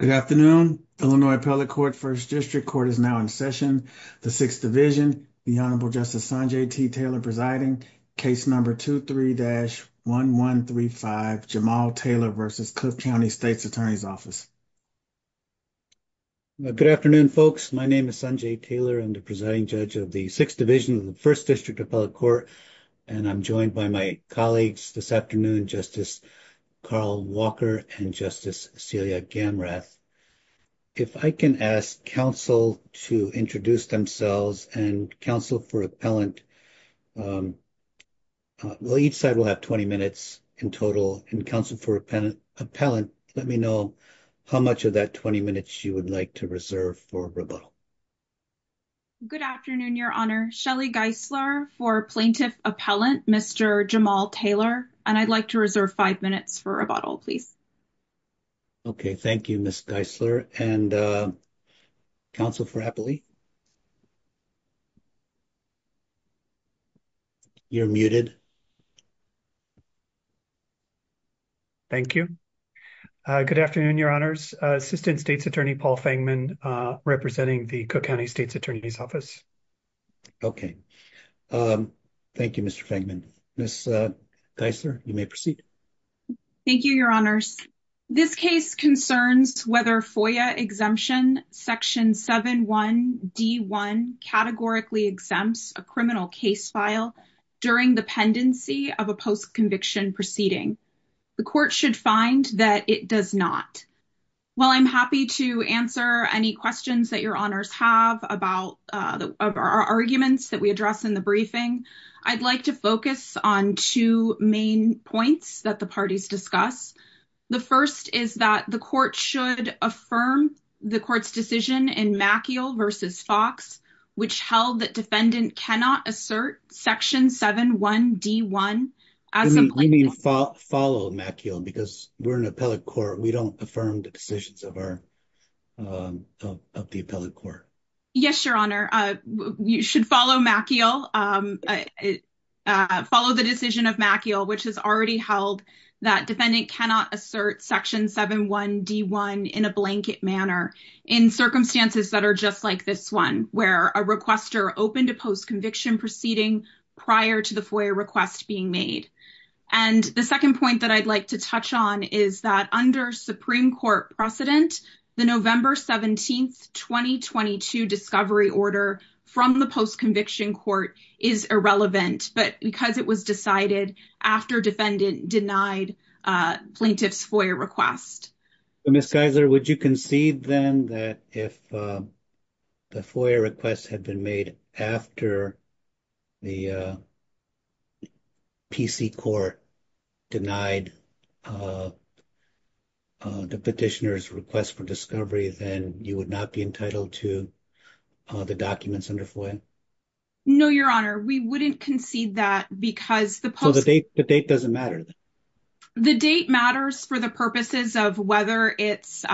Good afternoon. Illinois Appellate Court First District Court is now in session. The Sixth Division, the Honorable Justice Sanjay T. Taylor presiding, case number 23-1135, Jamal Taylor v. Cook County States Attorney's Office. Good afternoon, folks. My name is Sanjay Taylor. I'm the presiding judge of the Sixth Division of the First District Appellate Court, and I'm joined by my colleagues this afternoon, Justice Carl Walker and Justice Celia Gamrath. If I can ask counsel to introduce themselves, and counsel for appellant, each side will have 20 minutes in total, and counsel for appellant, let me know how much of that 20 minutes you would like to reserve for rebuttal. Good afternoon, Your Honor. Shelly Geisler for Plaintiff Appellant, Mr. Jamal Taylor, and I'd like to reserve five minutes for rebuttal, please. Okay, thank you, Ms. Geisler, and counsel for appellate? You're muted. Thank you. Good afternoon, Your Honors. Assistant States Attorney Paul Fangman representing the Cook County States Attorney's Office. Okay, thank you, Mr. Fangman. Ms. Geisler, you may proceed. Thank you, Your Honors. This case concerns whether FOIA exemption section 7 1 D 1 categorically exempts a criminal case file during the pendency of a post-conviction proceeding. The court should find that it does not. While I'm happy to answer any questions that Your Honors have about our arguments that we address in the briefing, I'd like to focus on two main points that the parties discuss. The first is that the court should affirm the court's decision in Maciel v. Fox, which held that defendant cannot assert section 7 1 D 1 as a plaintiff. We mean follow Maciel because we're an appellate court. We don't affirm the decisions of the appellate court. Yes, Your Honor. You should follow Maciel, follow the decision of Maciel, which has already held that defendant cannot assert section 7 1 D 1 in a blanket manner in circumstances that are just like this one, where a requester opened a post-conviction proceeding prior to the FOIA request being made. And the second point that I'd like to touch on is that under Supreme Court precedent, the November 17, 2022 discovery order from the post-conviction court is irrelevant, but because it was decided after defendant denied plaintiff's FOIA request. Ms. Geiser, would you concede then that if the FOIA request had been made after the PC court denied the petitioner's request for discovery, then you would not be entitled to the documents under FOIA? No, Your Honor. We wouldn't concede that because the date doesn't matter. The date matters for the purposes of whether it's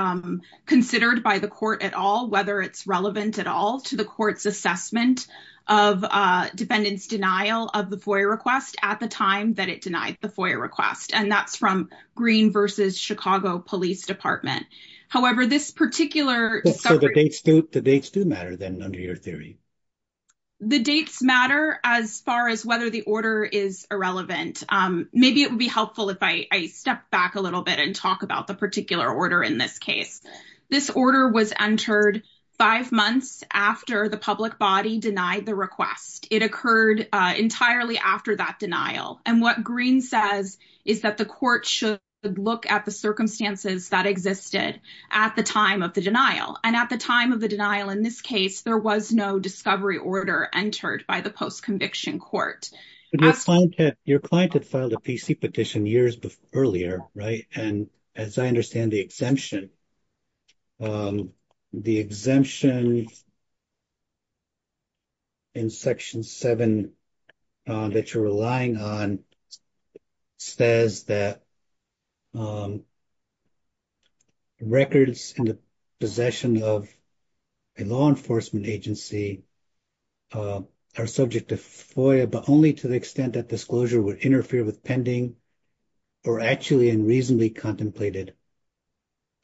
considered by the court at all, whether it's relevant at all to the court's assessment of defendant's denial of the FOIA request at the time that it denied the FOIA request. And that's from Green versus Chicago Police Department. However, this particular discovery... So the dates do matter then under your theory? The dates matter as far as whether the order is irrelevant. Maybe it would be helpful if I step back a little bit and talk about the particular order in this case. This order was entered five months after the public body denied the request. It occurred entirely after that denial. And what Green says is that the court should look at the circumstances that existed at the time of the denial. And at the time of the denial in this case, there was no discovery order entered by the post-conviction court. Your client had filed a PC petition years earlier, right? And as I understand the exemption... The exemption in Section 7 that you're relying on says that records in the possession of a law enforcement agency are subject to FOIA, but only to the law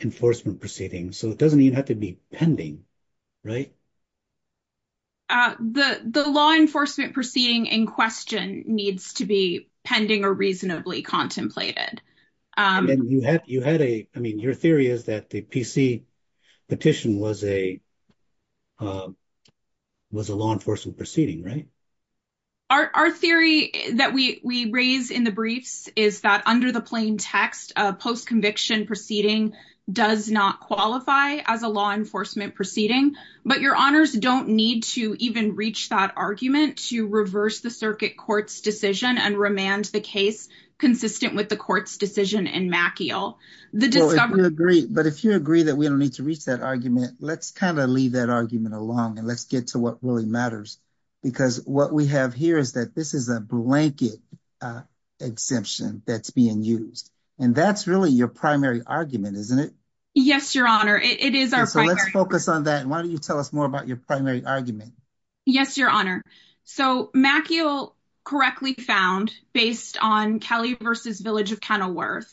enforcement proceeding. So it doesn't even have to be pending, right? The law enforcement proceeding in question needs to be pending or reasonably contemplated. I mean, your theory is that the PC petition was a law enforcement proceeding, right? Our theory that we raise in the briefs is that under the plain text, a post-conviction proceeding does not qualify as a law enforcement proceeding. But your honors don't need to even reach that argument to reverse the circuit court's decision and remand the case consistent with the court's decision in Maciel. The discovery... But if you agree that we don't need to reach that argument, let's kind of leave that argument alone and let's get to what really matters. Because what we have here is that this is a blanket exemption that's being used. And that's really your primary argument, isn't it? Yes, your honor. It is our primary... So let's focus on that. And why don't you tell us more about your primary argument? Yes, your honor. So Maciel correctly found, based on Kelly v. Village of Kenilworth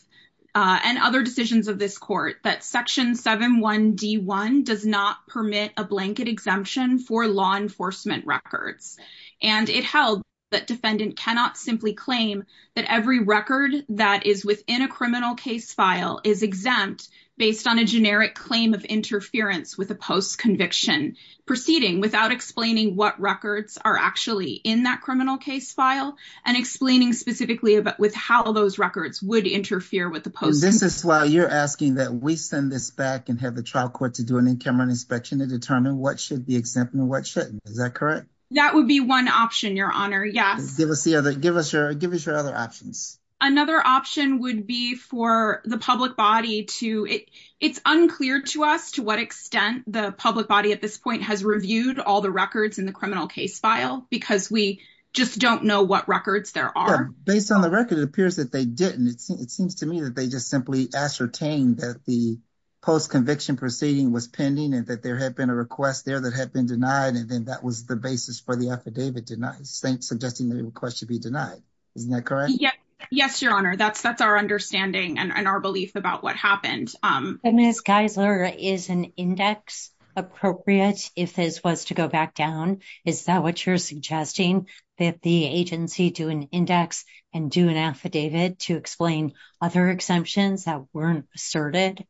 and other decisions of this court, that Section 7.1.d.1 does not permit a blanket exemption for law enforcement records. And it held that defendant cannot simply claim that every record that is within a criminal case file is exempt based on a generic claim of interference with a post-conviction proceeding without explaining what records are actually in that criminal case file and explaining specifically with how those records would interfere with the post-conviction. And this is why you're asking that we send this back and have the trial court do an in-camera inspection to determine what should be exempt and what shouldn't. Is that correct? That would be one option, your honor. Yes. Give us your other options. Another option would be for the public body to... It's unclear to us to what extent the public body at this point has reviewed all the records in the criminal case file because we just don't know what records there are. Yeah. Based on the record, it appears that they didn't. It seems to me that they just ascertained that the post-conviction proceeding was pending and that there had been a request there that had been denied. And then that was the basis for the affidavit suggesting the request should be denied. Isn't that correct? Yeah. Yes, your honor. That's our understanding and our belief about what happened. And Ms. Geisler, is an index appropriate if this was to go back down? Is that what you're suggesting? That the agency do an index and do an affidavit to explain other exemptions that weren't asserted?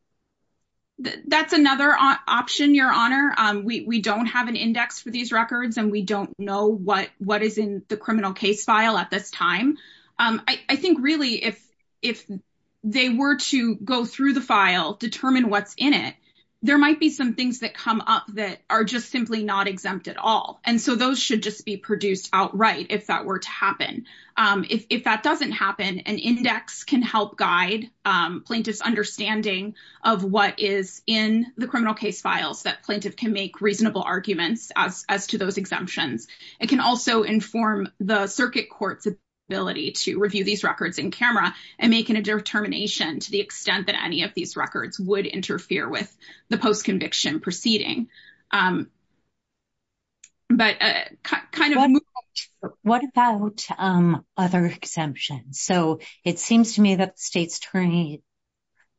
That's another option, your honor. We don't have an index for these records and we don't know what is in the criminal case file at this time. I think really if they were to go through the file, determine what's in it, there might be some things that come up that are just simply not exempt at all. And so those should just be produced outright if that were to happen. If that doesn't happen, an index can help guide plaintiff's understanding of what is in the criminal case files that plaintiff can make reasonable arguments as to those exemptions. It can also inform the circuit court's ability to review these records in camera and make a determination to the extent that any of these records would interfere with the post-conviction proceeding. But kind of- What about other exemptions? So it seems to me that the state's attorney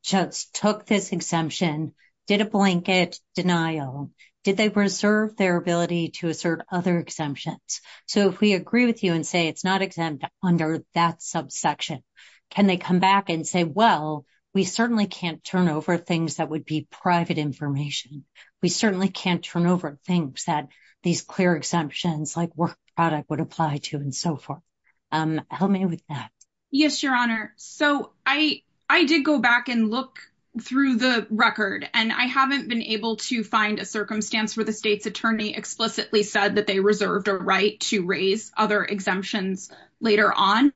just took this exemption, did a blanket denial. Did they preserve their ability to assert other exemptions? So if we agree with you and say it's not exempt under that subsection, can they come and say, well, we certainly can't turn over things that would be private information. We certainly can't turn over things that these clear exemptions like work product would apply to and so forth. Help me with that. Yes, Your Honor. So I did go back and look through the record and I haven't been able to find a circumstance where the state's attorney explicitly said that they reserved a right to raise other exemptions later on.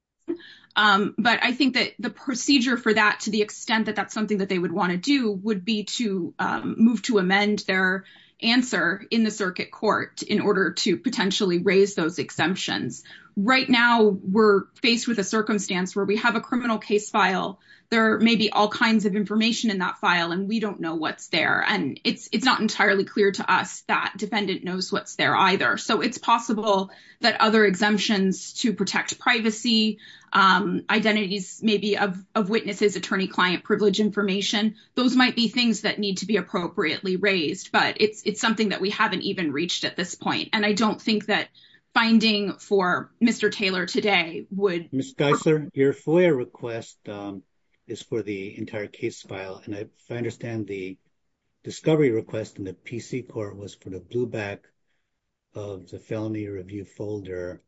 But I think the procedure for that, to the extent that that's something that they would want to do, would be to move to amend their answer in the circuit court in order to potentially raise those exemptions. Right now, we're faced with a circumstance where we have a criminal case file. There may be all kinds of information in that file and we don't know what's there. And it's not entirely clear to us that defendant knows what's there either. So it's possible that other exemptions to protect privacy, identities maybe of witnesses, attorney-client privilege information, those might be things that need to be appropriately raised. But it's something that we haven't even reached at this point. And I don't think that finding for Mr. Taylor today would... Ms. Geisler, your FOIA request is for the entire case file. And if I understand the discovery request in the PC court was for the blueback of the felony review folder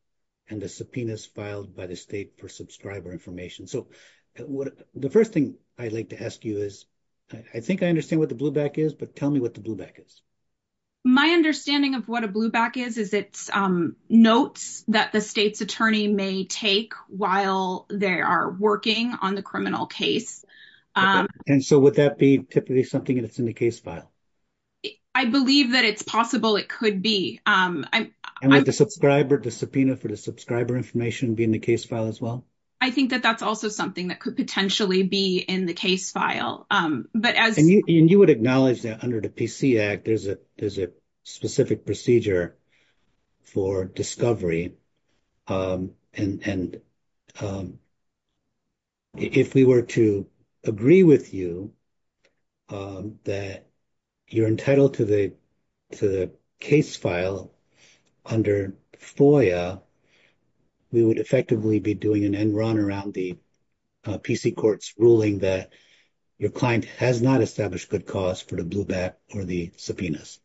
and the subpoenas filed by the state per subscriber information. So the first thing I'd like to ask you is, I think I understand what the blueback is, but tell me what the blueback is. My understanding of what a blueback is, is it's notes that the state's attorney may take while they are working on the criminal case. And so would that be typically something that's in the case file? I believe that it's possible it could be. And would the subscriber, the subpoena for the subscriber information be in the case file as well? I think that that's also something that could potentially be in the case file. But as... And you would acknowledge that under the PC Act, there's a specific procedure for discovery. And if we were to agree with you that you're entitled to the case file under FOIA, we would effectively be doing an end run around the PC court's ruling that your client has not established good cause for the blueback or the subpoenas.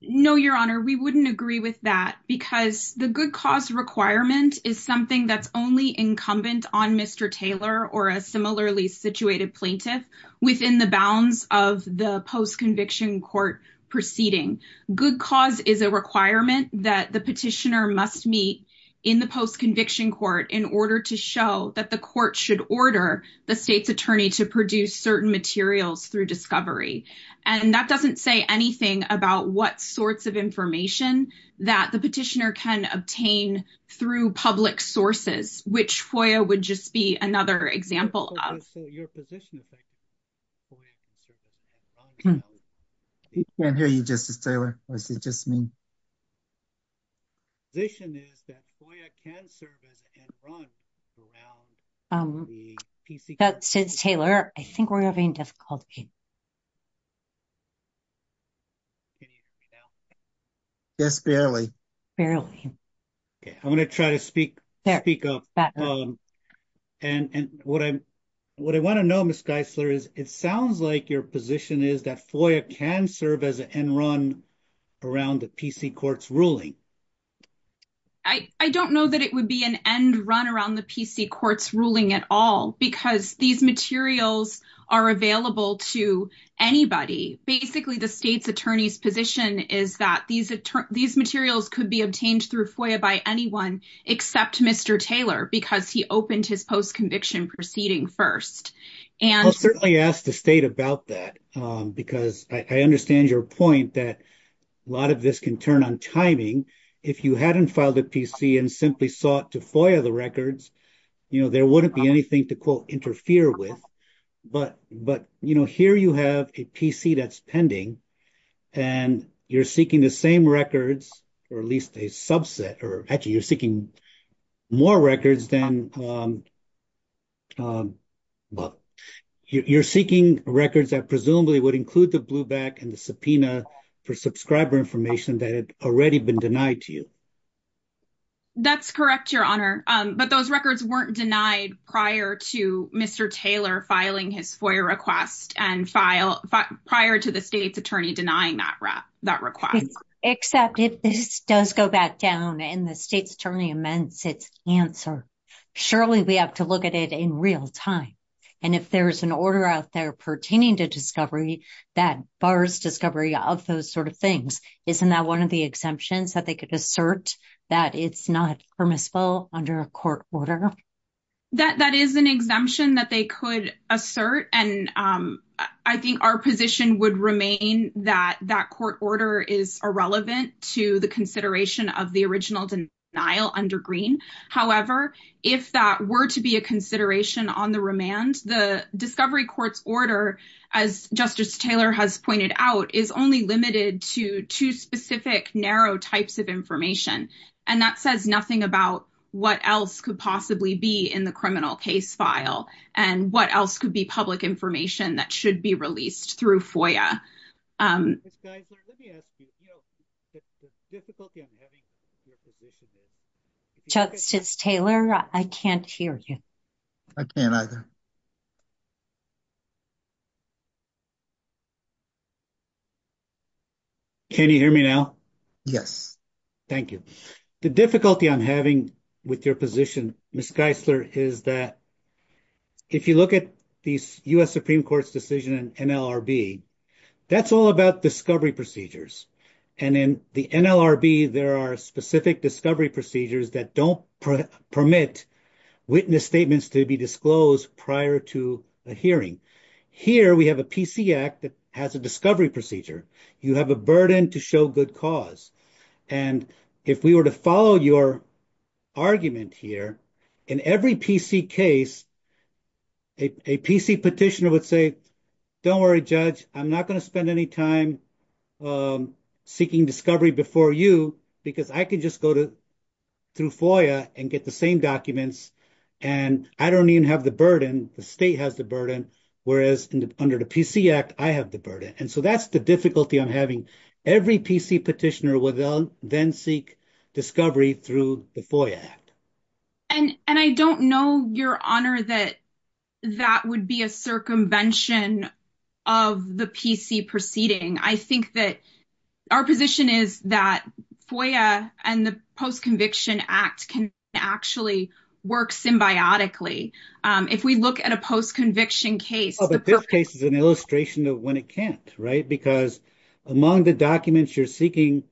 No, your honor. We wouldn't agree with that because the good cause requirement is something that's only incumbent on Mr. Taylor or a similarly situated plaintiff within the bounds of the post-conviction court proceeding. Good cause is a requirement that the petitioner must meet in the post-conviction court in order to show that the court should order the state's to produce certain materials through discovery. And that doesn't say anything about what sorts of information that the petitioner can obtain through public sources, which FOIA would just be another example of. So, your position is that FOIA can serve as an end run around the PC court? Since Taylor, I think we're having difficulty. Yes, barely. Barely. Okay. I'm going to try to speak up. And what I want to know, Ms. Geisler, is it sounds like your position is that FOIA can serve as an end run around the PC court's ruling. I don't know that it would be an end run around the PC court's ruling at all, because these materials are available to anybody. Basically, the state's attorney's position is that these materials could be obtained through FOIA by anyone except Mr. Taylor, because he opened his post-conviction proceeding first. I'll certainly ask the state about that, because I understand your point that a lot of this can timing. If you hadn't filed a PC and simply sought to FOIA the records, there wouldn't be anything to, quote, interfere with. But here you have a PC that's pending, and you're seeking the same records, or at least a subset, or actually you're seeking more records than, well, you're seeking records that presumably would include the blueback and subpoena for subscriber information that had already been denied to you. That's correct, Your Honor. But those records weren't denied prior to Mr. Taylor filing his FOIA request and prior to the state's attorney denying that request. Except if this does go back down and the state's attorney amends its answer, surely we have to look at it in real time. And if there's an order out there pertaining to discovery that bars discovery of those sort of things, isn't that one of the exemptions that they could assert that it's not permissible under a court order? That is an exemption that they could assert, and I think our position would remain that that court order is irrelevant to the consideration of the original denial under Greene. However, if that were to be a consideration on the remand, the discovery court's order, as Justice Taylor has pointed out, is only limited to two specific narrow types of information, and that says nothing about what else could possibly be in the criminal case file and what else could be public information that should be released through FOIA. Justice Taylor, I can't hear you. I can't either. Can you hear me now? Yes. Thank you. The difficulty I'm having with your position, Ms. Geisler, is that if you look at the U.S. Supreme Court's decision in NLRB, that's all about discovery procedures. And in the NLRB, there are specific discovery procedures that don't permit witness statements to be disclosed prior to a hearing. Here, we have a PC Act that has a discovery procedure. You have a burden to show good cause. And if we were to follow your argument here, in every PC case, a PC petitioner would say, don't worry, Judge, I'm not going to spend any time seeking discovery before you because I could just go to through FOIA and get the same documents, and I don't even have the burden. The state has the burden, whereas under the PC Act, I have the burden. And so that's the difficulty I'm having. Every PC petitioner will then seek discovery through the FOIA Act. And I don't know, Your Honor, that that would be a circumvention of the PC proceeding. I think that our position is that FOIA and the Post-Conviction Act can actually work symbiotically. If we look at a post-conviction case... Well, but this case is an illustration of when it can't, right? Because among the documents you're seeking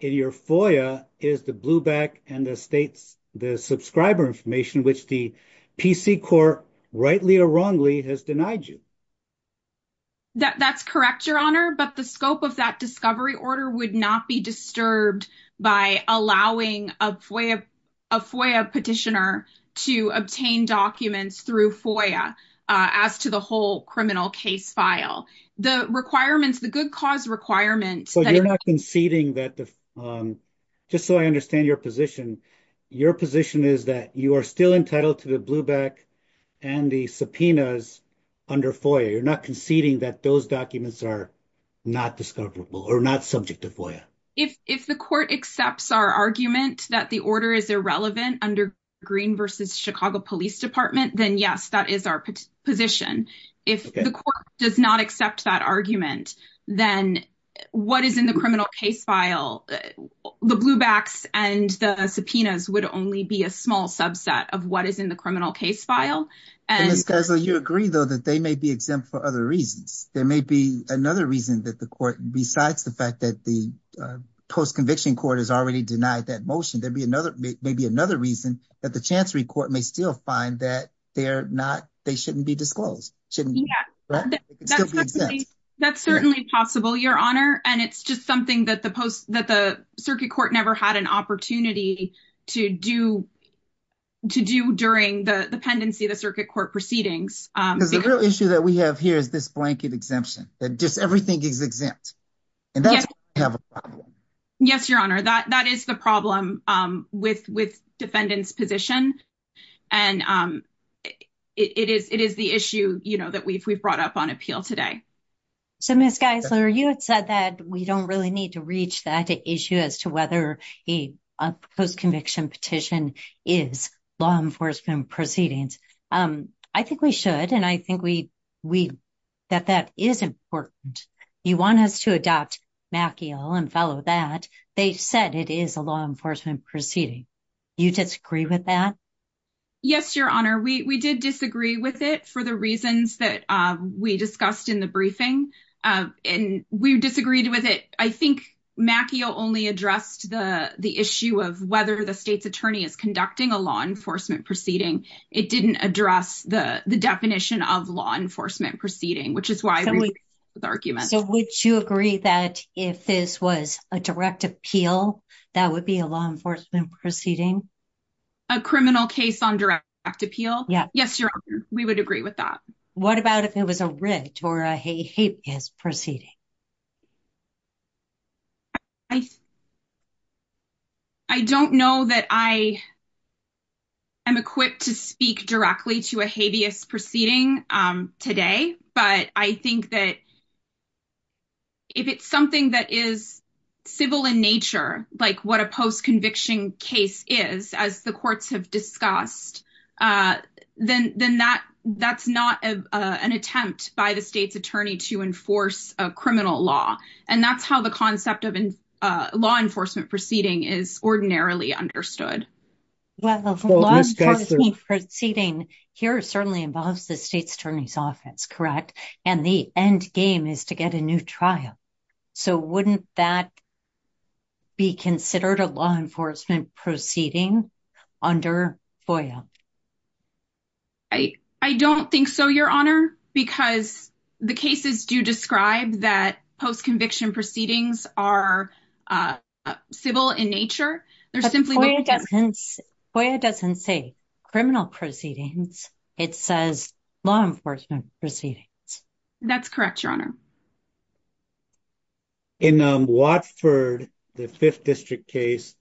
in your FOIA is the blue back and the states, the subscriber information, which the PC court, rightly or wrongly, has denied you. That's correct, Your Honor. But the scope of that discovery order would not be disturbed by allowing a FOIA petitioner to obtain documents through FOIA, as to the whole criminal case file. The requirements, the good cause requirements... So you're not conceding that, just so I understand your position, your position is that you are still entitled to the blue back and the subpoenas under FOIA. You're not conceding that those documents are not discoverable or not subject to FOIA. If the court accepts our argument that the order is irrelevant under Green v. Chicago Police Department, then yes, that is our position. If the court does not accept that argument, then what is in the criminal case file, the blue backs and the subpoenas would only be a small subset of what is in the criminal case file. Ms. Kessler, you agree, though, that they may be exempt for other reasons. There may be another reason that the court, besides the fact that the post-conviction court has already denied that motion, there may be another reason that the Chancery Court may still find that they shouldn't be disclosed. That's certainly possible, Your Honor. And it's just something that the circuit court never had an opportunity to do during the pendency of the circuit court proceedings. Because the real issue that we have here is this blanket exemption, that just everything is exempt. And that's where we have a problem. Yes, Your Honor, that is the with defendant's position. And it is the issue that we've brought up on appeal today. So, Ms. Kessler, you had said that we don't really need to reach that issue as to whether a post-conviction petition is law enforcement proceedings. I think we should, and I think we, that that is important. You want us to adopt Macchio and follow that. They said it is a law enforcement proceeding. You disagree with that? Yes, Your Honor. We did disagree with it for the reasons that we discussed in the briefing. And we disagreed with it. I think Macchio only addressed the issue of whether the state's attorney is conducting a law enforcement proceeding. It didn't address the definition of law enforcement proceeding, which is why we agree with the argument. So, would you agree that if this was a direct appeal, that would be a law enforcement proceeding? A criminal case on direct appeal? Yes, Your Honor. We would agree with that. What about if it was a writ or a habeas proceeding? I don't know that I am equipped to speak directly to a habeas proceeding today, but I think that if it's something that is civil in nature, like what a post-conviction case is, as the courts have discussed, then that's not an attempt by the state's attorney to enforce a criminal law. And that's how the concept of law enforcement proceeding is ordinarily understood. Well, the law enforcement proceeding here certainly involves the state's attorney's office, correct? And the end game is to get a new trial. So, wouldn't that be considered a law enforcement proceeding under FOIA? I don't think so, Your Honor, because the cases do describe that post-conviction proceedings are civil in nature. FOIA doesn't say criminal proceedings, it says law enforcement proceedings. That's correct, Your Honor. In Watford, the 5th District case,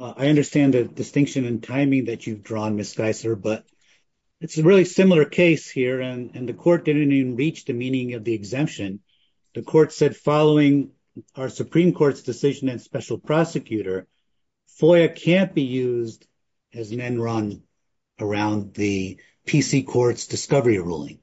I understand the distinction in timing that you've drawn, Ms. Geisler, but it's a really similar case here, and the court didn't even reach the meaning of the exemption. The court said, following our Supreme Court's decision and special prosecutor, FOIA can't be used as an end run around the PC Court's discovery ruling.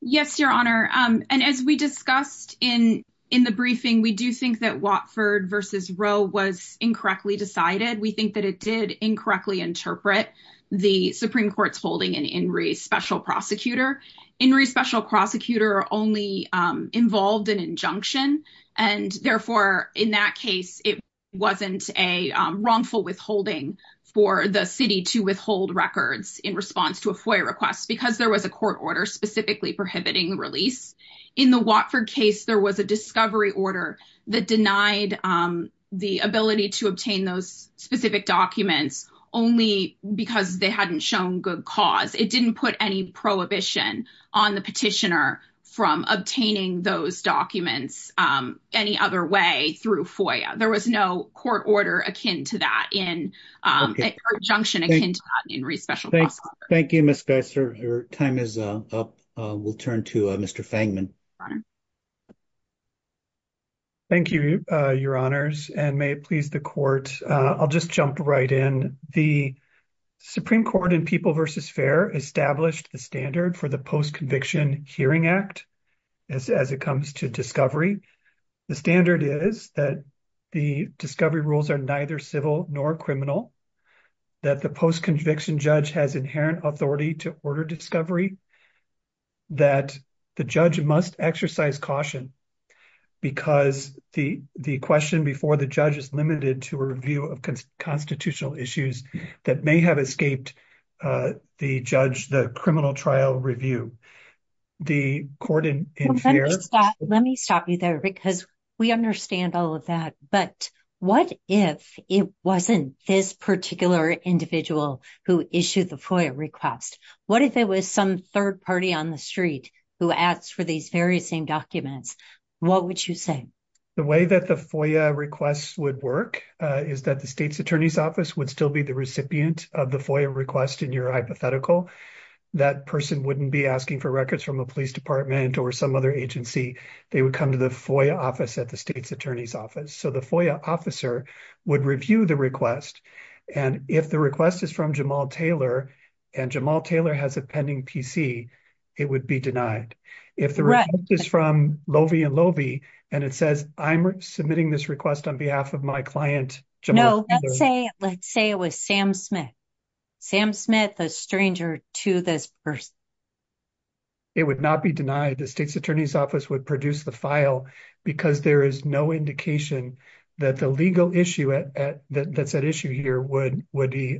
Yes, Your Honor. And as we discussed in the briefing, we do think that Watford v. Roe was incorrectly decided. We think that it did incorrectly interpret the Supreme Court's holding in Inree's special prosecutor. Inree's special prosecutor only involved an injunction, and therefore, in that case, it wasn't a wrongful withholding for the city to withhold records in response to a FOIA request because there was a court order specifically prohibiting release. In the Watford case, there was a discovery order that denied the ability to obtain those specific documents only because they hadn't shown good cause. It didn't put any prohibition on the petitioner from obtaining those documents any other way through FOIA. There was no court order akin to that injunction akin to that in Inree's special prosecutor. Thank you, Ms. Geisler. Your time is up. We'll turn to Mr. Fangman. Thank you, Your Honors, and may it please the Court. I'll just jump right in. The Supreme Court in People v. Fair established the standard for the Post-Conviction Hearing Act as it comes to discovery. The standard is that the discovery rules are neither civil nor criminal, that the post-conviction judge has inherent authority to order discovery, that the judge must exercise caution because the question before the judge is limited to a review of constitutional issues that may have escaped the judge, the criminal trial review. The court in Fair... Let me stop you there because we understand all of that, but what if it wasn't this particular individual who issued the FOIA request? What if it was some third party on the street who asked for these very same documents? What would you say? The way that the FOIA requests would work is that the state's attorney's office would still be the recipient of the FOIA request in your hypothetical. That person wouldn't be asking for records from a police department or some other agency. They would come to the FOIA office at the state's attorney's office. So the FOIA officer would review the request, and if the request is from Jamal Taylor and Jamal Taylor has a pending PC, it would be denied. If the request is from Loewe and Loewe and it says, I'm submitting this request on behalf of my client, Jamal Taylor... No, let's say it was Sam Smith. Sam Smith, a stranger to this person. It would not be denied. The state's attorney's office would produce the file because there is no indication that the legal issue that's at issue here would be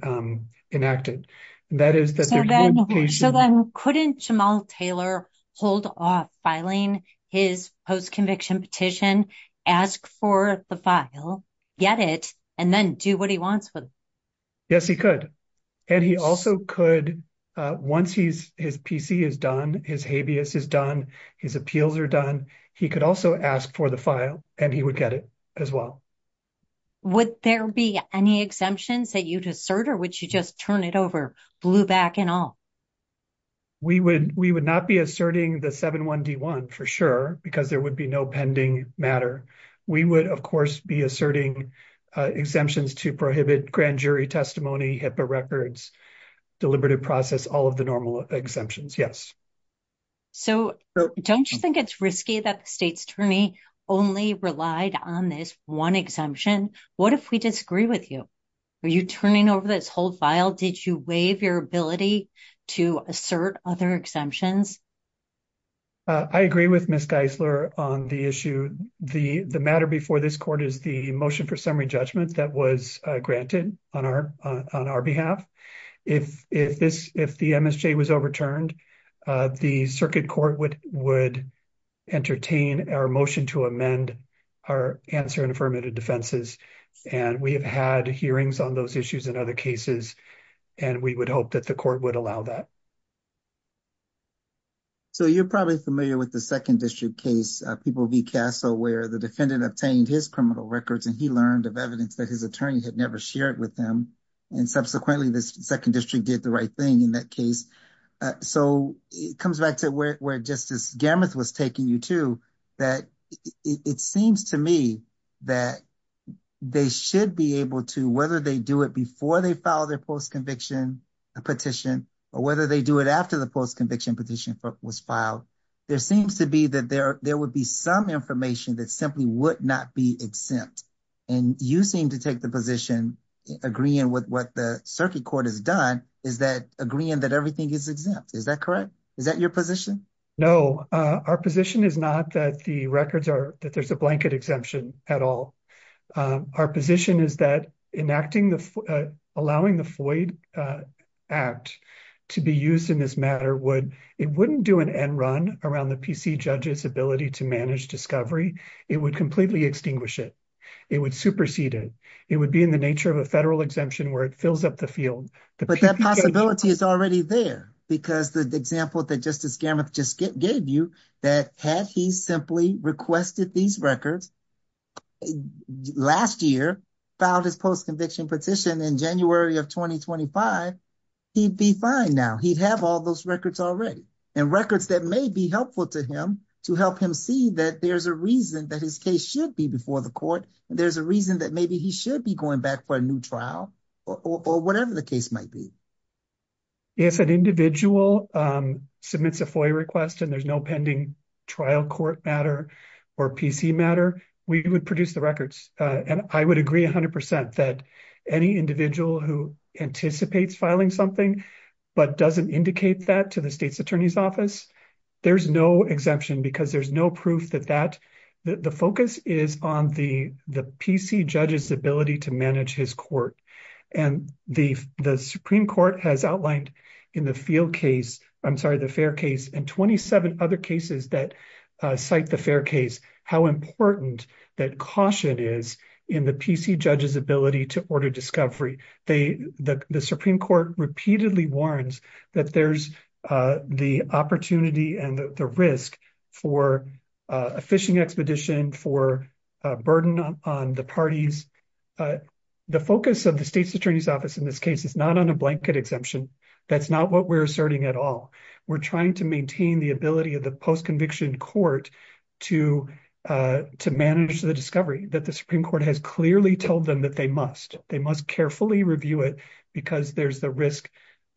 enacted. So then couldn't Jamal Taylor hold off filing his post-conviction petition, ask for the file, get it, and then do what he wants with it? Yes, he could. And he also could, once his PC is done, his habeas is done, his appeals are done, he could also ask for the file and he would get it as well. Would there be any exemptions that you'd assert or would you just turn it over, blew back and all? We would not be asserting the 7-1-D-1 for sure because there would be no pending matter. We would, of course, be asserting exemptions to prohibit grand jury testimony, HIPAA records, deliberative process, all of the normal exemptions. Yes. So don't you think it's risky that the state's attorney only relied on this one exemption? What if we disagree with you? Are you turning over this whole file? Did you waive your ability to assert other exemptions? I agree with Ms. Geisler on the issue. The matter before this court is the motion for summary judgment that was granted on our behalf. If the MSJ was overturned, the circuit court would entertain our motion to amend our answer and affirmative defenses and we have had hearings on those issues in other cases and we would hope that the court would allow that. So you're probably familiar with the Second District case, People v. Castle, where the defendant obtained his criminal records and he learned of evidence that his attorney had never shared with him and subsequently the Second District did the right thing in that case. So it comes back to where Justice Gammuth was taking you to, that it seems to me that they should be able to, whether they do it before they file their post-conviction petition, or whether they do it after the post-conviction petition was filed, there seems to be that there would be some information that simply would not be exempt. And you seem to take the position, agreeing with what the circuit court has done, is that agreeing that everything is exempt. Is that correct? Is that your position? No, our position is not that the records are, that there's a blanket exemption at all. Our position is that enacting the, allowing the Floyd Act to be used in this matter would, it wouldn't do an end run around the PC judge's ability to manage discovery. It would completely extinguish it. It would supersede it. It would be in the nature of a federal exemption where it fills up the field. But that possibility is already there because the example that Justice Gammuth just gave you, that had he simply requested these records last year, filed his post-conviction petition in January of 2025, he'd be fine now. He'd have all those records already, and records that may be helpful to him to help him see that there's a reason that his case should be before the court. There's a reason that maybe he should be going back for a new trial, or whatever the case might be. If an individual submits a FOIA request and there's no pending trial court matter, or PC matter, we would produce the records. And I would agree 100% that any individual who anticipates filing something, but doesn't indicate that to the state's attorney's office, there's no exemption because there's no proof that that, the focus is on the PC judge's ability to manage his court. And the Supreme Court has outlined in the field case, I'm sorry, the fair case, and 27 other cases that cite the fair case, how important that caution is in the PC judge's ability to order discovery. The Supreme Court repeatedly warns that there's the opportunity and the risk for a phishing expedition, for a burden on the parties. The focus of the state's attorney's office in this case is not on a blanket exemption. That's not what we're asserting at all. We're trying to maintain the ability of the post conviction court to manage the discovery that the Supreme Court has clearly told them that they must. They must carefully review it because there's the risk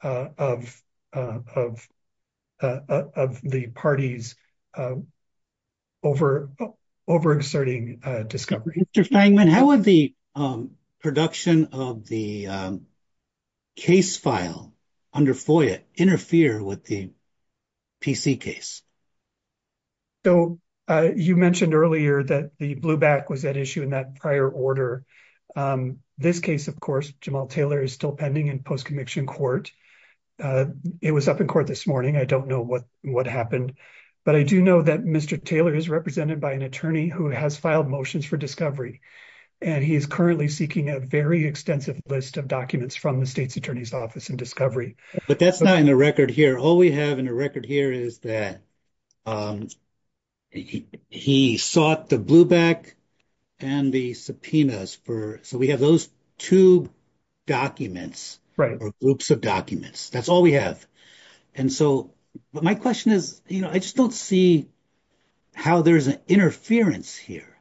of the parties over inserting discovery. Mr. Stangman, how would the production of the case file under FOIA interfere with the PC case? So you mentioned earlier that the blue back was at issue in that prior order. This case, of course, Jamal Taylor is still pending in post-conviction court. It was up in court this morning. I don't know what happened, but I do know that Mr. Taylor is represented by an attorney who has filed motions for discovery. And he is currently seeking a very extensive list of documents from the state's attorney's office in discovery. But that's not in the record here. All we have in the record here is that he sought the blue back and the subpoenas. So we have those two documents or groups of documents. That's all we have. And so my question is, I just don't see how there's an interference here.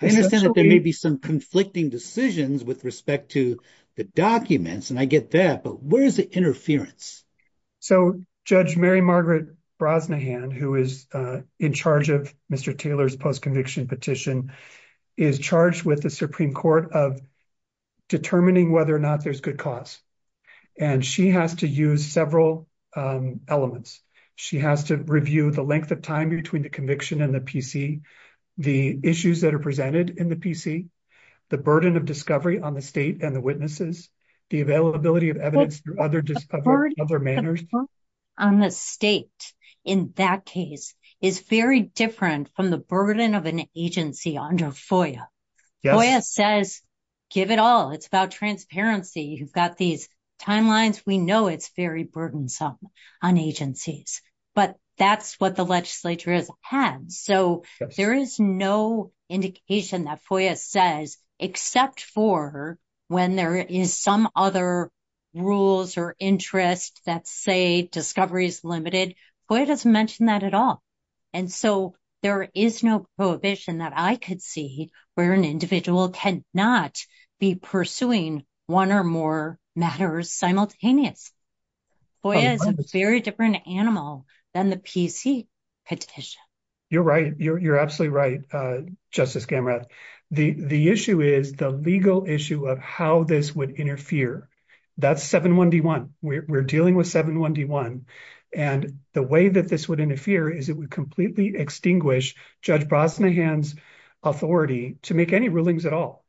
I understand that there may be some conflicting decisions with respect to the documents, and I get that, but where is the interference? So Judge Mary Margaret Brosnahan, who is in charge of Mr. Taylor's post-conviction petition, is charged with the Supreme Court of determining whether or not there's good cause. And she has to use several elements. She has to review the length of time between the conviction and the PC, the issues that are presented in the PC, the burden of discovery on the state and the witnesses, the availability of evidence through other manners. The burden on the state in that case is very different from the burden of an agency under FOIA. FOIA says, give it all. It's about transparency. You've got these timelines. We know it's very burdensome on agencies, but that's what the legislature has had. So there is no indication that FOIA says, except for when there is some other rules or interest that say discovery is limited. FOIA doesn't mention that at all. And so there is no prohibition that I could see where an individual cannot be pursuing one or more matters simultaneous. FOIA is a very different animal than the PC petition. You're right. You're absolutely right, Justice Gamrat. The issue is the legal issue of how this would interfere. That's 7-1-D-1. We're dealing with 7-1-D-1. And the way that this would is it would completely extinguish Judge Brosnahan's authority to make any rulings at all.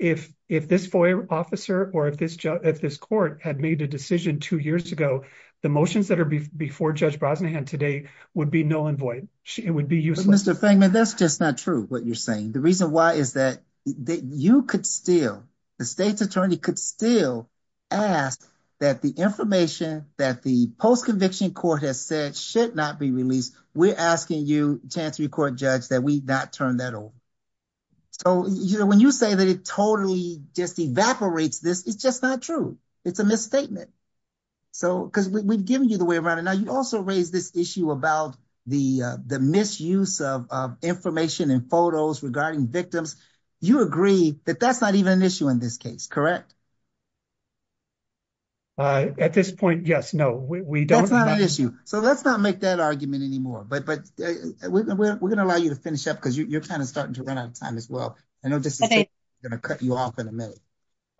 If this FOIA officer or if this court had made a decision two years ago, the motions that are before Judge Brosnahan today would be null and void. It would be useless. But Mr. Fangman, that's just not true, what you're saying. The reason why is that you could still, the state's attorney could still ask that the information that the post-conviction court has said should not be released, we're asking you, Chancery Court Judge, that we not turn that over. So, you know, when you say that it totally just evaporates this, it's just not true. It's a misstatement. So, because we've given you the way around it. Now, you also raised this issue about the misuse of information and photos regarding victims. You agree that that's not an issue in this case, correct? At this point, yes. No, we don't. That's not an issue. So, let's not make that argument anymore. But we're going to allow you to finish up because you're kind of starting to run out of time as well. I know this is going to cut you off in a minute.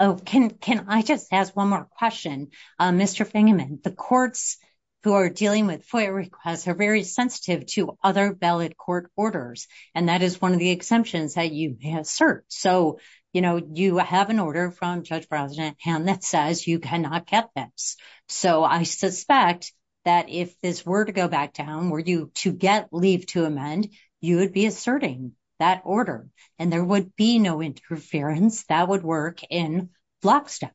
Oh, can I just ask one more question? Mr. Fangman, the courts who are dealing with FOIA requests are very sensitive to other valid court orders. And that is one of the exemptions that you assert. So, you know, you have an order from Judge Brown's hand that says you cannot get this. So, I suspect that if this were to go back down, were you to get leave to amend, you would be asserting that order and there would be no interference that would work in block step.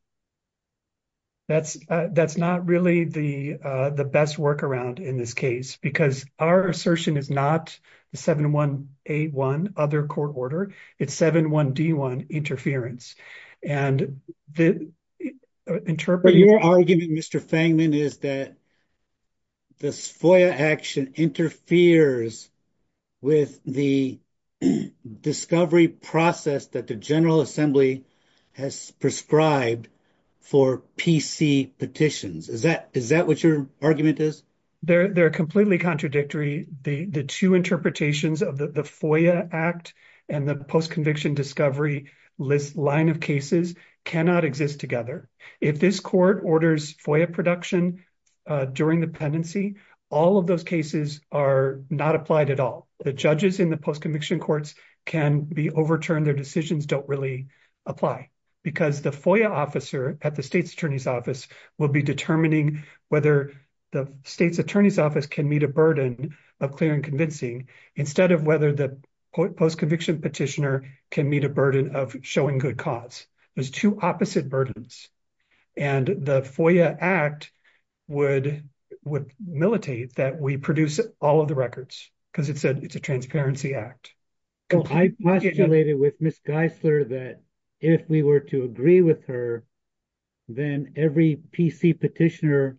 That's not really the best workaround in this case because our assertion is not the 7181 other court order. It's 71D1 interference. But your argument, Mr. Fangman, is that this FOIA action interferes with the discovery process that the General Assembly has prescribed for PC petitions. Is that what your argument is? They're completely contradictory. The two interpretations of the FOIA Act and the post-conviction discovery list line of cases cannot exist together. If this court orders FOIA production during the pendency, all of those cases are not applied at all. The judges in the post-conviction courts can be overturned. Their decisions don't really apply because the FOIA officer at the state's attorney's office will be whether the state's attorney's office can meet a burden of clear and convincing instead of whether the post-conviction petitioner can meet a burden of showing good cause. There's two opposite burdens. The FOIA Act would militate that we produce all of the records because it's a transparency act. I postulated with Ms. Geisler that if we were to agree with her, then every petitioner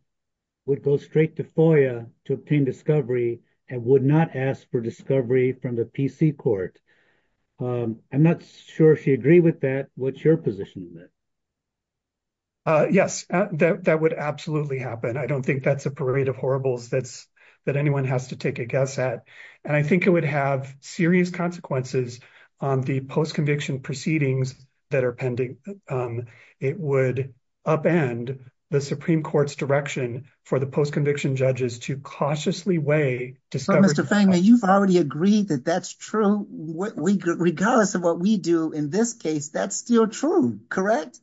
would go straight to FOIA to obtain discovery and would not ask for discovery from the PC court. I'm not sure if she agreed with that. What's your position on that? Yes, that would absolutely happen. I don't think that's a parade of horribles that anyone has to take a guess at. I think it would have serious consequences on the post-conviction proceedings that are pending. It would upend the Supreme Court's direction for the post-conviction judges to cautiously weigh discovery. Mr. Fangman, you've already agreed that that's true. Regardless of what we do in this case, that's still true, correct?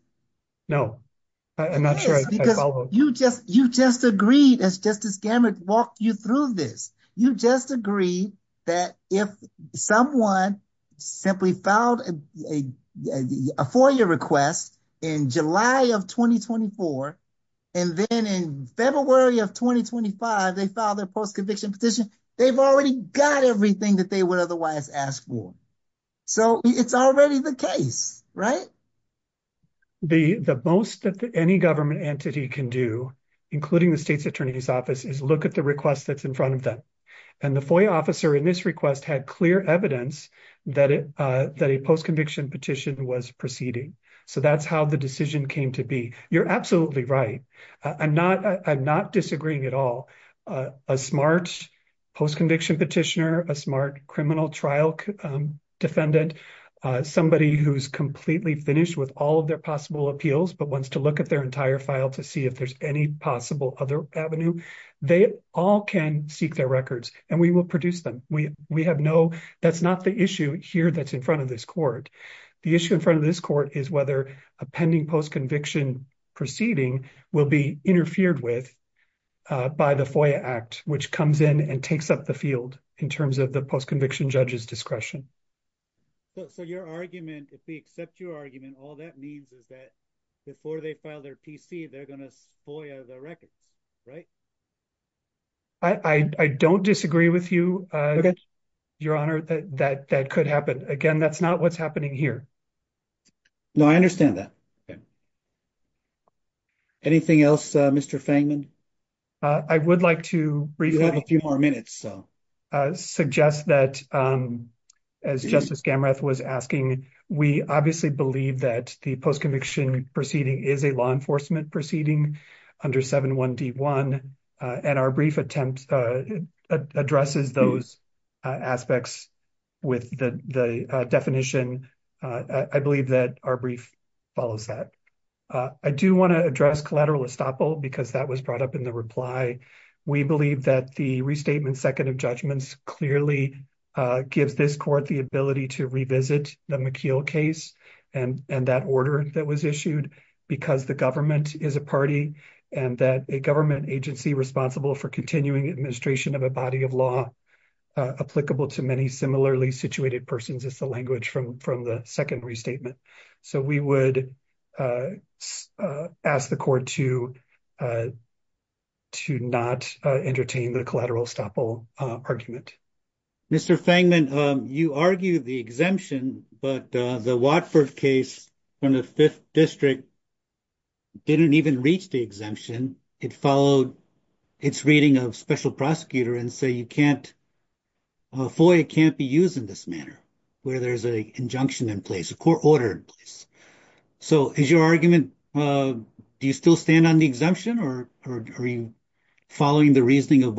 No, I'm not sure I followed. You just agreed as Justice Gamert walked you through this. You just agreed that if someone simply filed a FOIA request in July of 2024 and then in February of 2025, they filed their post-conviction petition, they've already got everything that they would otherwise ask for. It's already the case, right? The most that any government entity can do, including the state's attorney's office, is look at the request that's in front of them. The FOIA officer in this request had clear evidence that a post-conviction petition was proceeding. That's how the decision came to be. You're absolutely right. I'm not disagreeing at all. A smart post-conviction petitioner, a smart criminal trial defendant, somebody who's completely finished with all of their possible appeals but wants to look at their entire file to see if there's any possible other avenue, they all can seek their records and we will produce them. That's not the issue here that's in front of this court. The issue in front of this court is whether a pending post-conviction proceeding will be interfered with by the FOIA Act, which comes in and takes up the field in terms of the post-conviction judge's discretion. So your argument, if they accept your argument, all that means is that before they file their PC, they're going to FOIA the records, right? I don't disagree with you, Your Honor. That could happen. Again, that's not what's happening here. No, I understand that. Anything else, Mr. Fangman? I would like to briefly suggest that, as Justice Gamreth was asking, we obviously believe that the post-conviction proceeding is a law enforcement proceeding under 7.1.d.1 and our brief attempt addresses those aspects with the definition. I believe that our brief follows that. I do want to address collateral estoppel because that was brought up in the reply. We believe that the restatement second of judgments clearly gives this court the ability to revisit the McKeel case and that order that was issued because the government is a party and that a government agency responsible for continuing administration of a body of law applicable to many similarly situated persons is the language from the second restatement. So we would ask the court to not entertain the collateral estoppel argument. Mr. Fangman, you argue the exemption, but the Watford case from the Fifth District didn't even reach the exemption. It followed its reading of special prosecutor and say you can't, a FOIA can't be used in this manner where there's an injunction in place, a court order in place. So is your argument, do you still stand on the exemption or are you following the reasoning of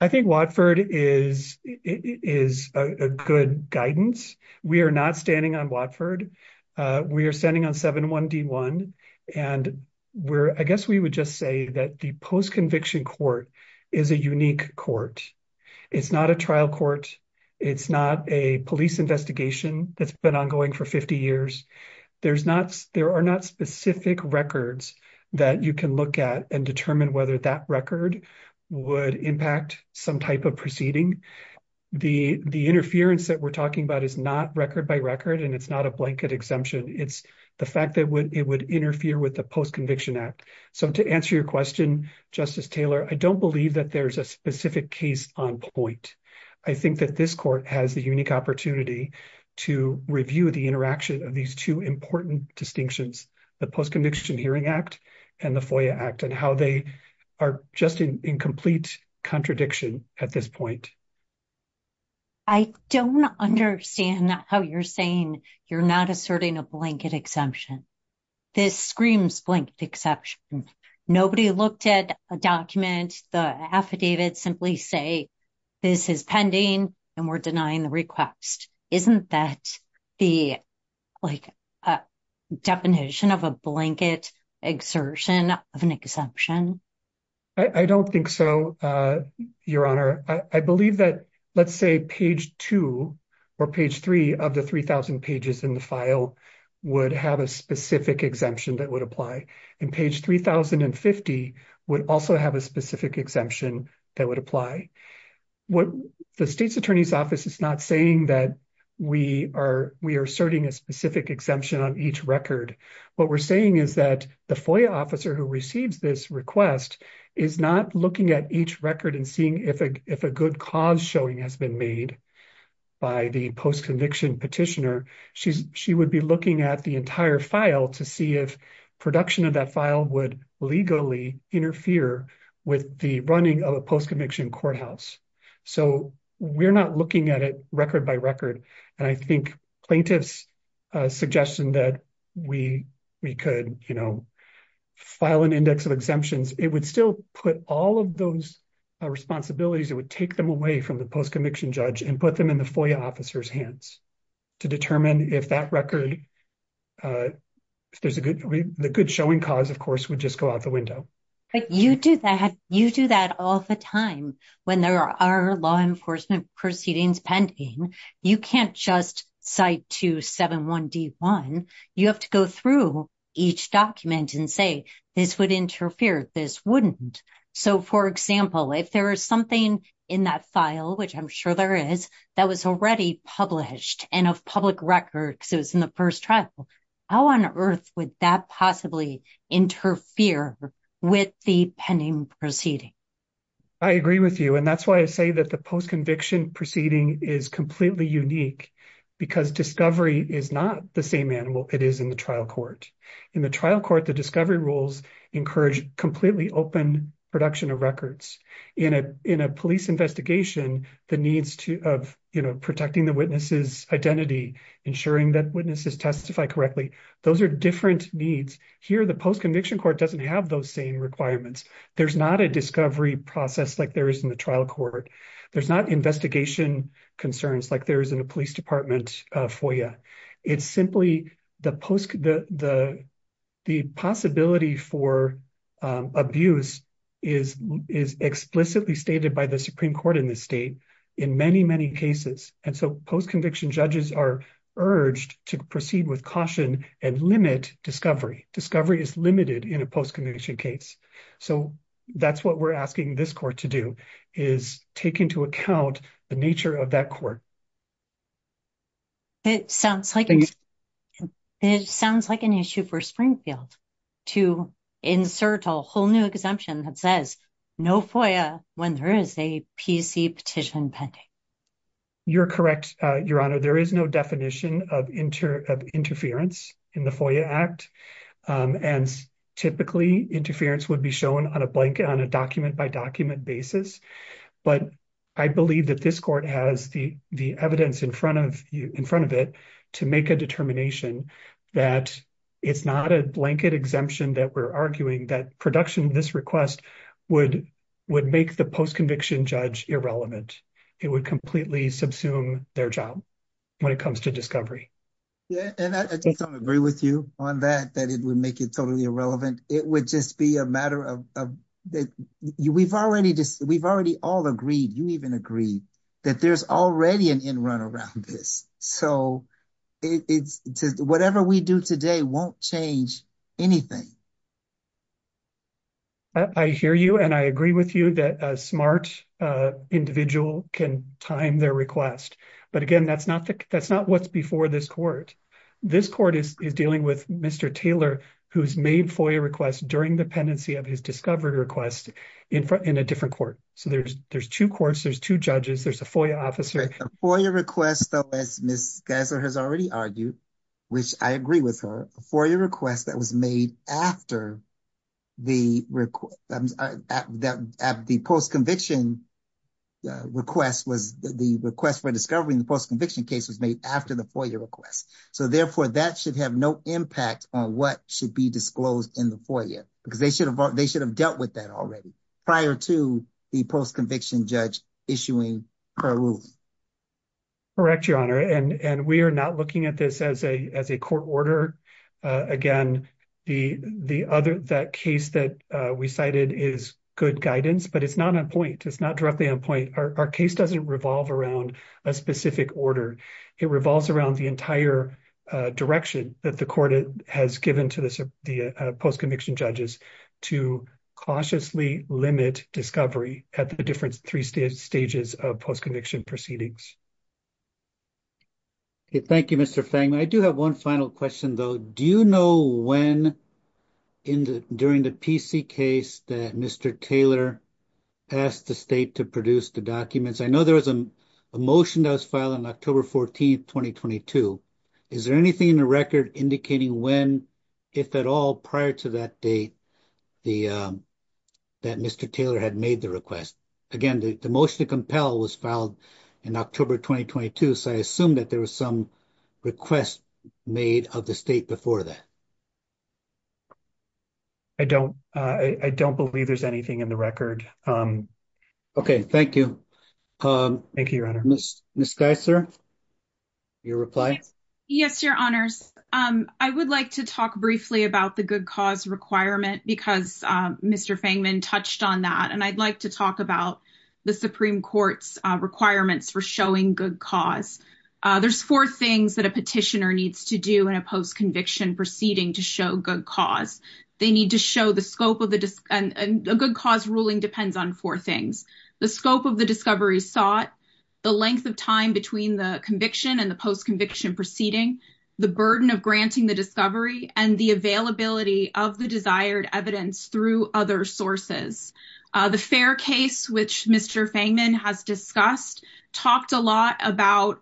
I think Watford is a good guidance. We are not standing on Watford. We are standing on 71D1 and I guess we would just say that the post-conviction court is a unique court. It's not a trial court. It's not a police investigation that's been ongoing for 50 years. There are not specific records that you can look at and determine whether that record would impact some type of proceeding. The interference that we're talking about is not record by record and it's not a blanket exemption. It's the fact that it would interfere with the post-conviction act. So to answer your question, Justice Taylor, I don't believe that there's a specific case on point. I think that this court has the unique opportunity to review the interaction of these two important distinctions, the post-conviction hearing act and the incomplete contradiction at this point. I don't understand how you're saying you're not asserting a blanket exemption. This screams blanket exception. Nobody looked at a document, the affidavit simply say this is pending and we're denying the request. Isn't that the like a definition of a blanket exertion of an exemption? I don't think so, your honor. I believe that let's say page two or page three of the 3,000 pages in the file would have a specific exemption that would apply and page 3,050 would also have a specific exemption that would apply. What the state's attorney's office is not saying that we are we are asserting a specific exemption on each record. What we're saying is that the FOIA officer who receives this request is not looking at each record and seeing if a good cause showing has been made by the post-conviction petitioner. She would be looking at the entire file to see if production of that file would interfere with the running of a post-conviction courthouse. We're not looking at it record by record. I think plaintiff's suggestion that we could file an index of exemptions, it would still put all of those responsibilities, it would take them away from the post-conviction judge and put them in the FOIA officer's hands to determine if that record, if there's a good, the good showing cause, of course, would just go out the window. But you do that, you do that all the time when there are law enforcement proceedings pending. You can't just cite 271D1. You have to go through each document and say this would interfere, this wouldn't. So, for example, if there is something in that file, which I'm sure there is, that was already published and of public record because in the first trial, how on earth would that possibly interfere with the pending proceeding? I agree with you. And that's why I say that the post-conviction proceeding is completely unique because discovery is not the same animal it is in the trial court. In the trial court, the discovery rules encourage completely open production of records. In a police investigation, the needs of protecting the witness's identity, ensuring that witnesses testify correctly, those are different needs. Here, the post-conviction court doesn't have those same requirements. There's not a discovery process like there is in the trial court. There's not investigation concerns like there is in a police department FOIA. It's simply the possibility for abuse is explicitly stated by the Supreme Court in this state in many, many cases. And so, post-conviction judges are urged to proceed with caution and limit discovery. Discovery is limited in a post-conviction case. So, that's what we're asking this court to do is take into account the nature of that court. It sounds like an issue for Springfield to insert a whole new exemption that says no FOIA when there is a PC petition pending. You're correct, Your Honor. There is no definition of interference in the FOIA Act. And typically, interference would be shown on a document-by-document basis. But I believe that this court has the evidence in front of it to make a determination that it's not a blanket exemption that we're arguing that production of this request would make the post-conviction judge irrelevant. It would completely subsume their job when it comes to discovery. And I just don't agree with you on that, that it would make it totally irrelevant. It would just be a matter of, we've already all agreed, you even agreed, that there's already an end-run around this. So, whatever we do today won't change anything. I hear you and I agree with you that a smart individual can time their request. But again, that's not what's before this court. This court is dealing with Mr. Taylor, who's made FOIA requests during the pendency of his discovery request in a different court. So, there's two courts, there's two judges, there's a FOIA officer. A FOIA request, though, as Ms. Gessler has already argued, which I agree with her, a FOIA request that was made after the post-conviction request was the request for discovery in the post-conviction case was made after the FOIA request. So, therefore, that should have no impact on what should be disclosed in the FOIA because they should have dealt with that already prior to the post-conviction judge issuing her ruling. Correct, Your Honor. And we are not looking at this as a court order. Again, that case that we cited is good guidance, but it's not on point. It's not directly on point. Our case doesn't revolve around a specific order. It revolves around the entire direction that the court has given to the post-conviction judges to cautiously limit discovery at the different three stages of post-conviction proceedings. Okay, thank you, Mr. Fang. I do have one final question, though. Do you know when, during the PC case, that Mr. Taylor asked the state to produce the documents? I know there was a motion that was filed on October 14, 2022. Is there anything in the record indicating when, if at all, prior to that date that Mr. Taylor had made the request? Again, the motion to compel was filed in October 2022, so I assume that there was some request made of the state before that. I don't believe there's anything in the record. Okay, thank you. Thank you, Your Honor. Ms. Geisler, your reply? Yes, Your Honors. I would like to talk briefly about the good cause requirement because Mr. Fangman touched on that, and I'd like to talk about the Supreme Court's requirements for showing good cause. There's four things that a petitioner needs to do in a post-conviction proceeding to show good cause. A good cause ruling depends on four things. The scope of the discovery sought, the length of time between the conviction and the post-conviction proceeding, the burden of granting the discovery, and the availability of the desired evidence through other sources. The Fair case, which Mr. Fangman has discussed, talked a lot about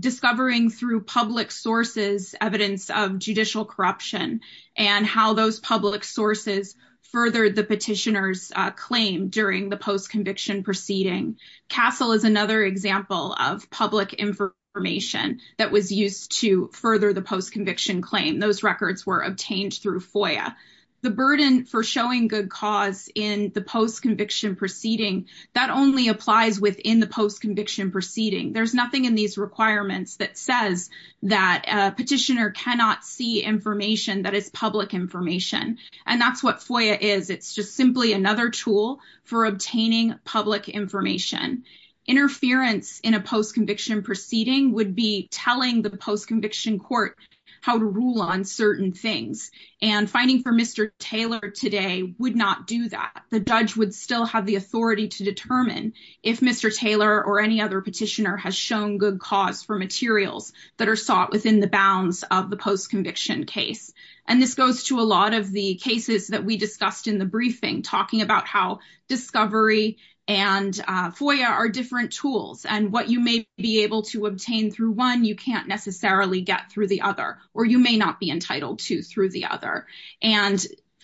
discovering through public sources evidence of judicial corruption and how those public sources furthered the petitioner's claim during the post-conviction proceeding. CASEL is another example of public information that was used to further the post-conviction claim. Those records were obtained through FOIA. The burden for showing good cause in the post-conviction proceeding, that only applies within the post-conviction proceeding. There's nothing in these requirements that says that a petitioner cannot see information that is public information, and that's what FOIA is. It's just simply another tool for obtaining public information. Interference in a post-conviction proceeding would be telling the post-conviction court how to rule on certain things, and fighting for Mr. Taylor today would not do that. The judge would still have the to determine if Mr. Taylor or any other petitioner has shown good cause for materials that are sought within the bounds of the post-conviction case. This goes to a lot of the cases that we discussed in the briefing, talking about how discovery and FOIA are different tools, and what you may be able to obtain through one, you can't necessarily get through the other, or you may not be entitled to through the other.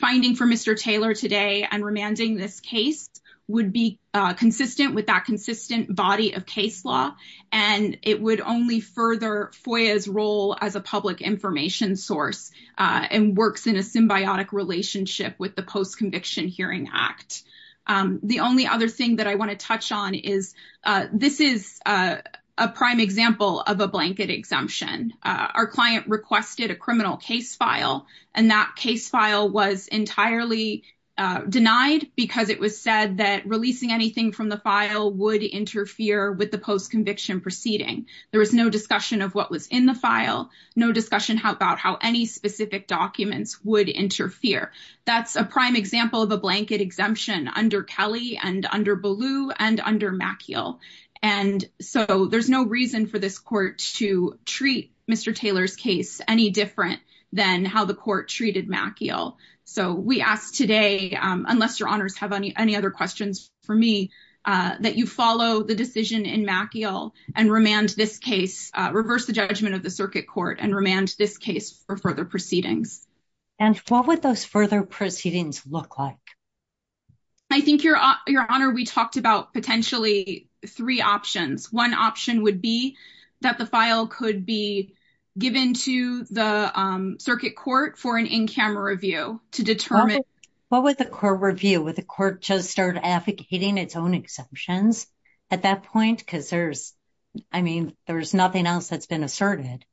Finding for Mr. Taylor today and remanding this case would be consistent with that consistent body of case law, and it would only further FOIA's role as a public information source, and works in a symbiotic relationship with the post-conviction hearing act. The only other thing that I want to touch on is this is a prime example of a blanket exemption. Our client requested a criminal case file, and that case file was entirely denied because it was said that releasing anything from the file would interfere with the post-conviction proceeding. There was no discussion of what was in the file, no discussion about how any specific documents would interfere. That's a prime example of a blanket exemption under Kelly, and under Ballou, and under Maciel, and so there's no reason for this court to treat Mr. Taylor's case any different than how the court treated Maciel. So we ask today, unless your honors have any other questions for me, that you follow the decision in Maciel and remand this case, reverse the judgment of the circuit court and remand this case for further proceedings. And what would those further proceedings look like? I think your honor, we talked about potentially three options. One option would be that the file could be given to the circuit court for an in-camera review to determine. What would the court review? Would the court just start advocating its own exemptions at that point? Because there's, I mean, there's nothing else that's been asserted.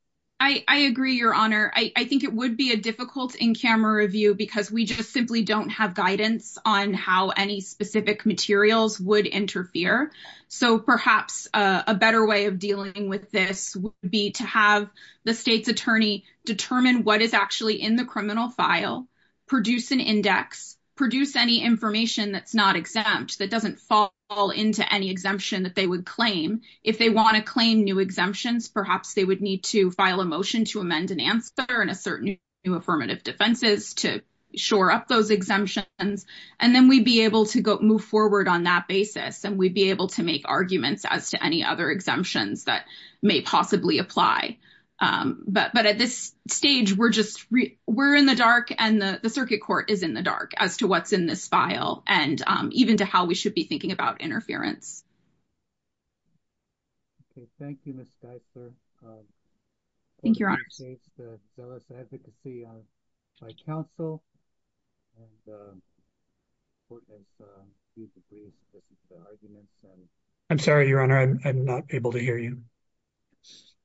I agree, your honor. I think it would be a difficult in-camera review because we just simply don't have guidance on how any specific materials would interfere. So perhaps a better way of dealing with this would be to have the state's attorney determine what is actually in the criminal file, produce an index, produce any information that's not exempt, that doesn't fall into any exemption that they would claim. If they want to claim new exemptions, perhaps they would need to file a motion to amend an answer and assert new affirmative defenses to shore up those exemptions. And then we'd be move forward on that basis and we'd be able to make arguments as to any other exemptions that may possibly apply. But at this stage, we're in the dark and the circuit court is in the dark as to what's in this file and even to how we should be thinking about interference. Okay. Thank you, Ms. Dyser. I'm sorry, your honor, I'm not able to hear you.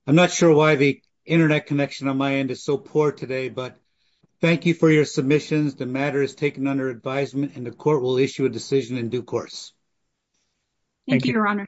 I'm not sure why the internet connection on my end is so poor today, but thank you for your submissions. The matter is taken under advisement and the court will issue a decision in due course. Thank you, your honor.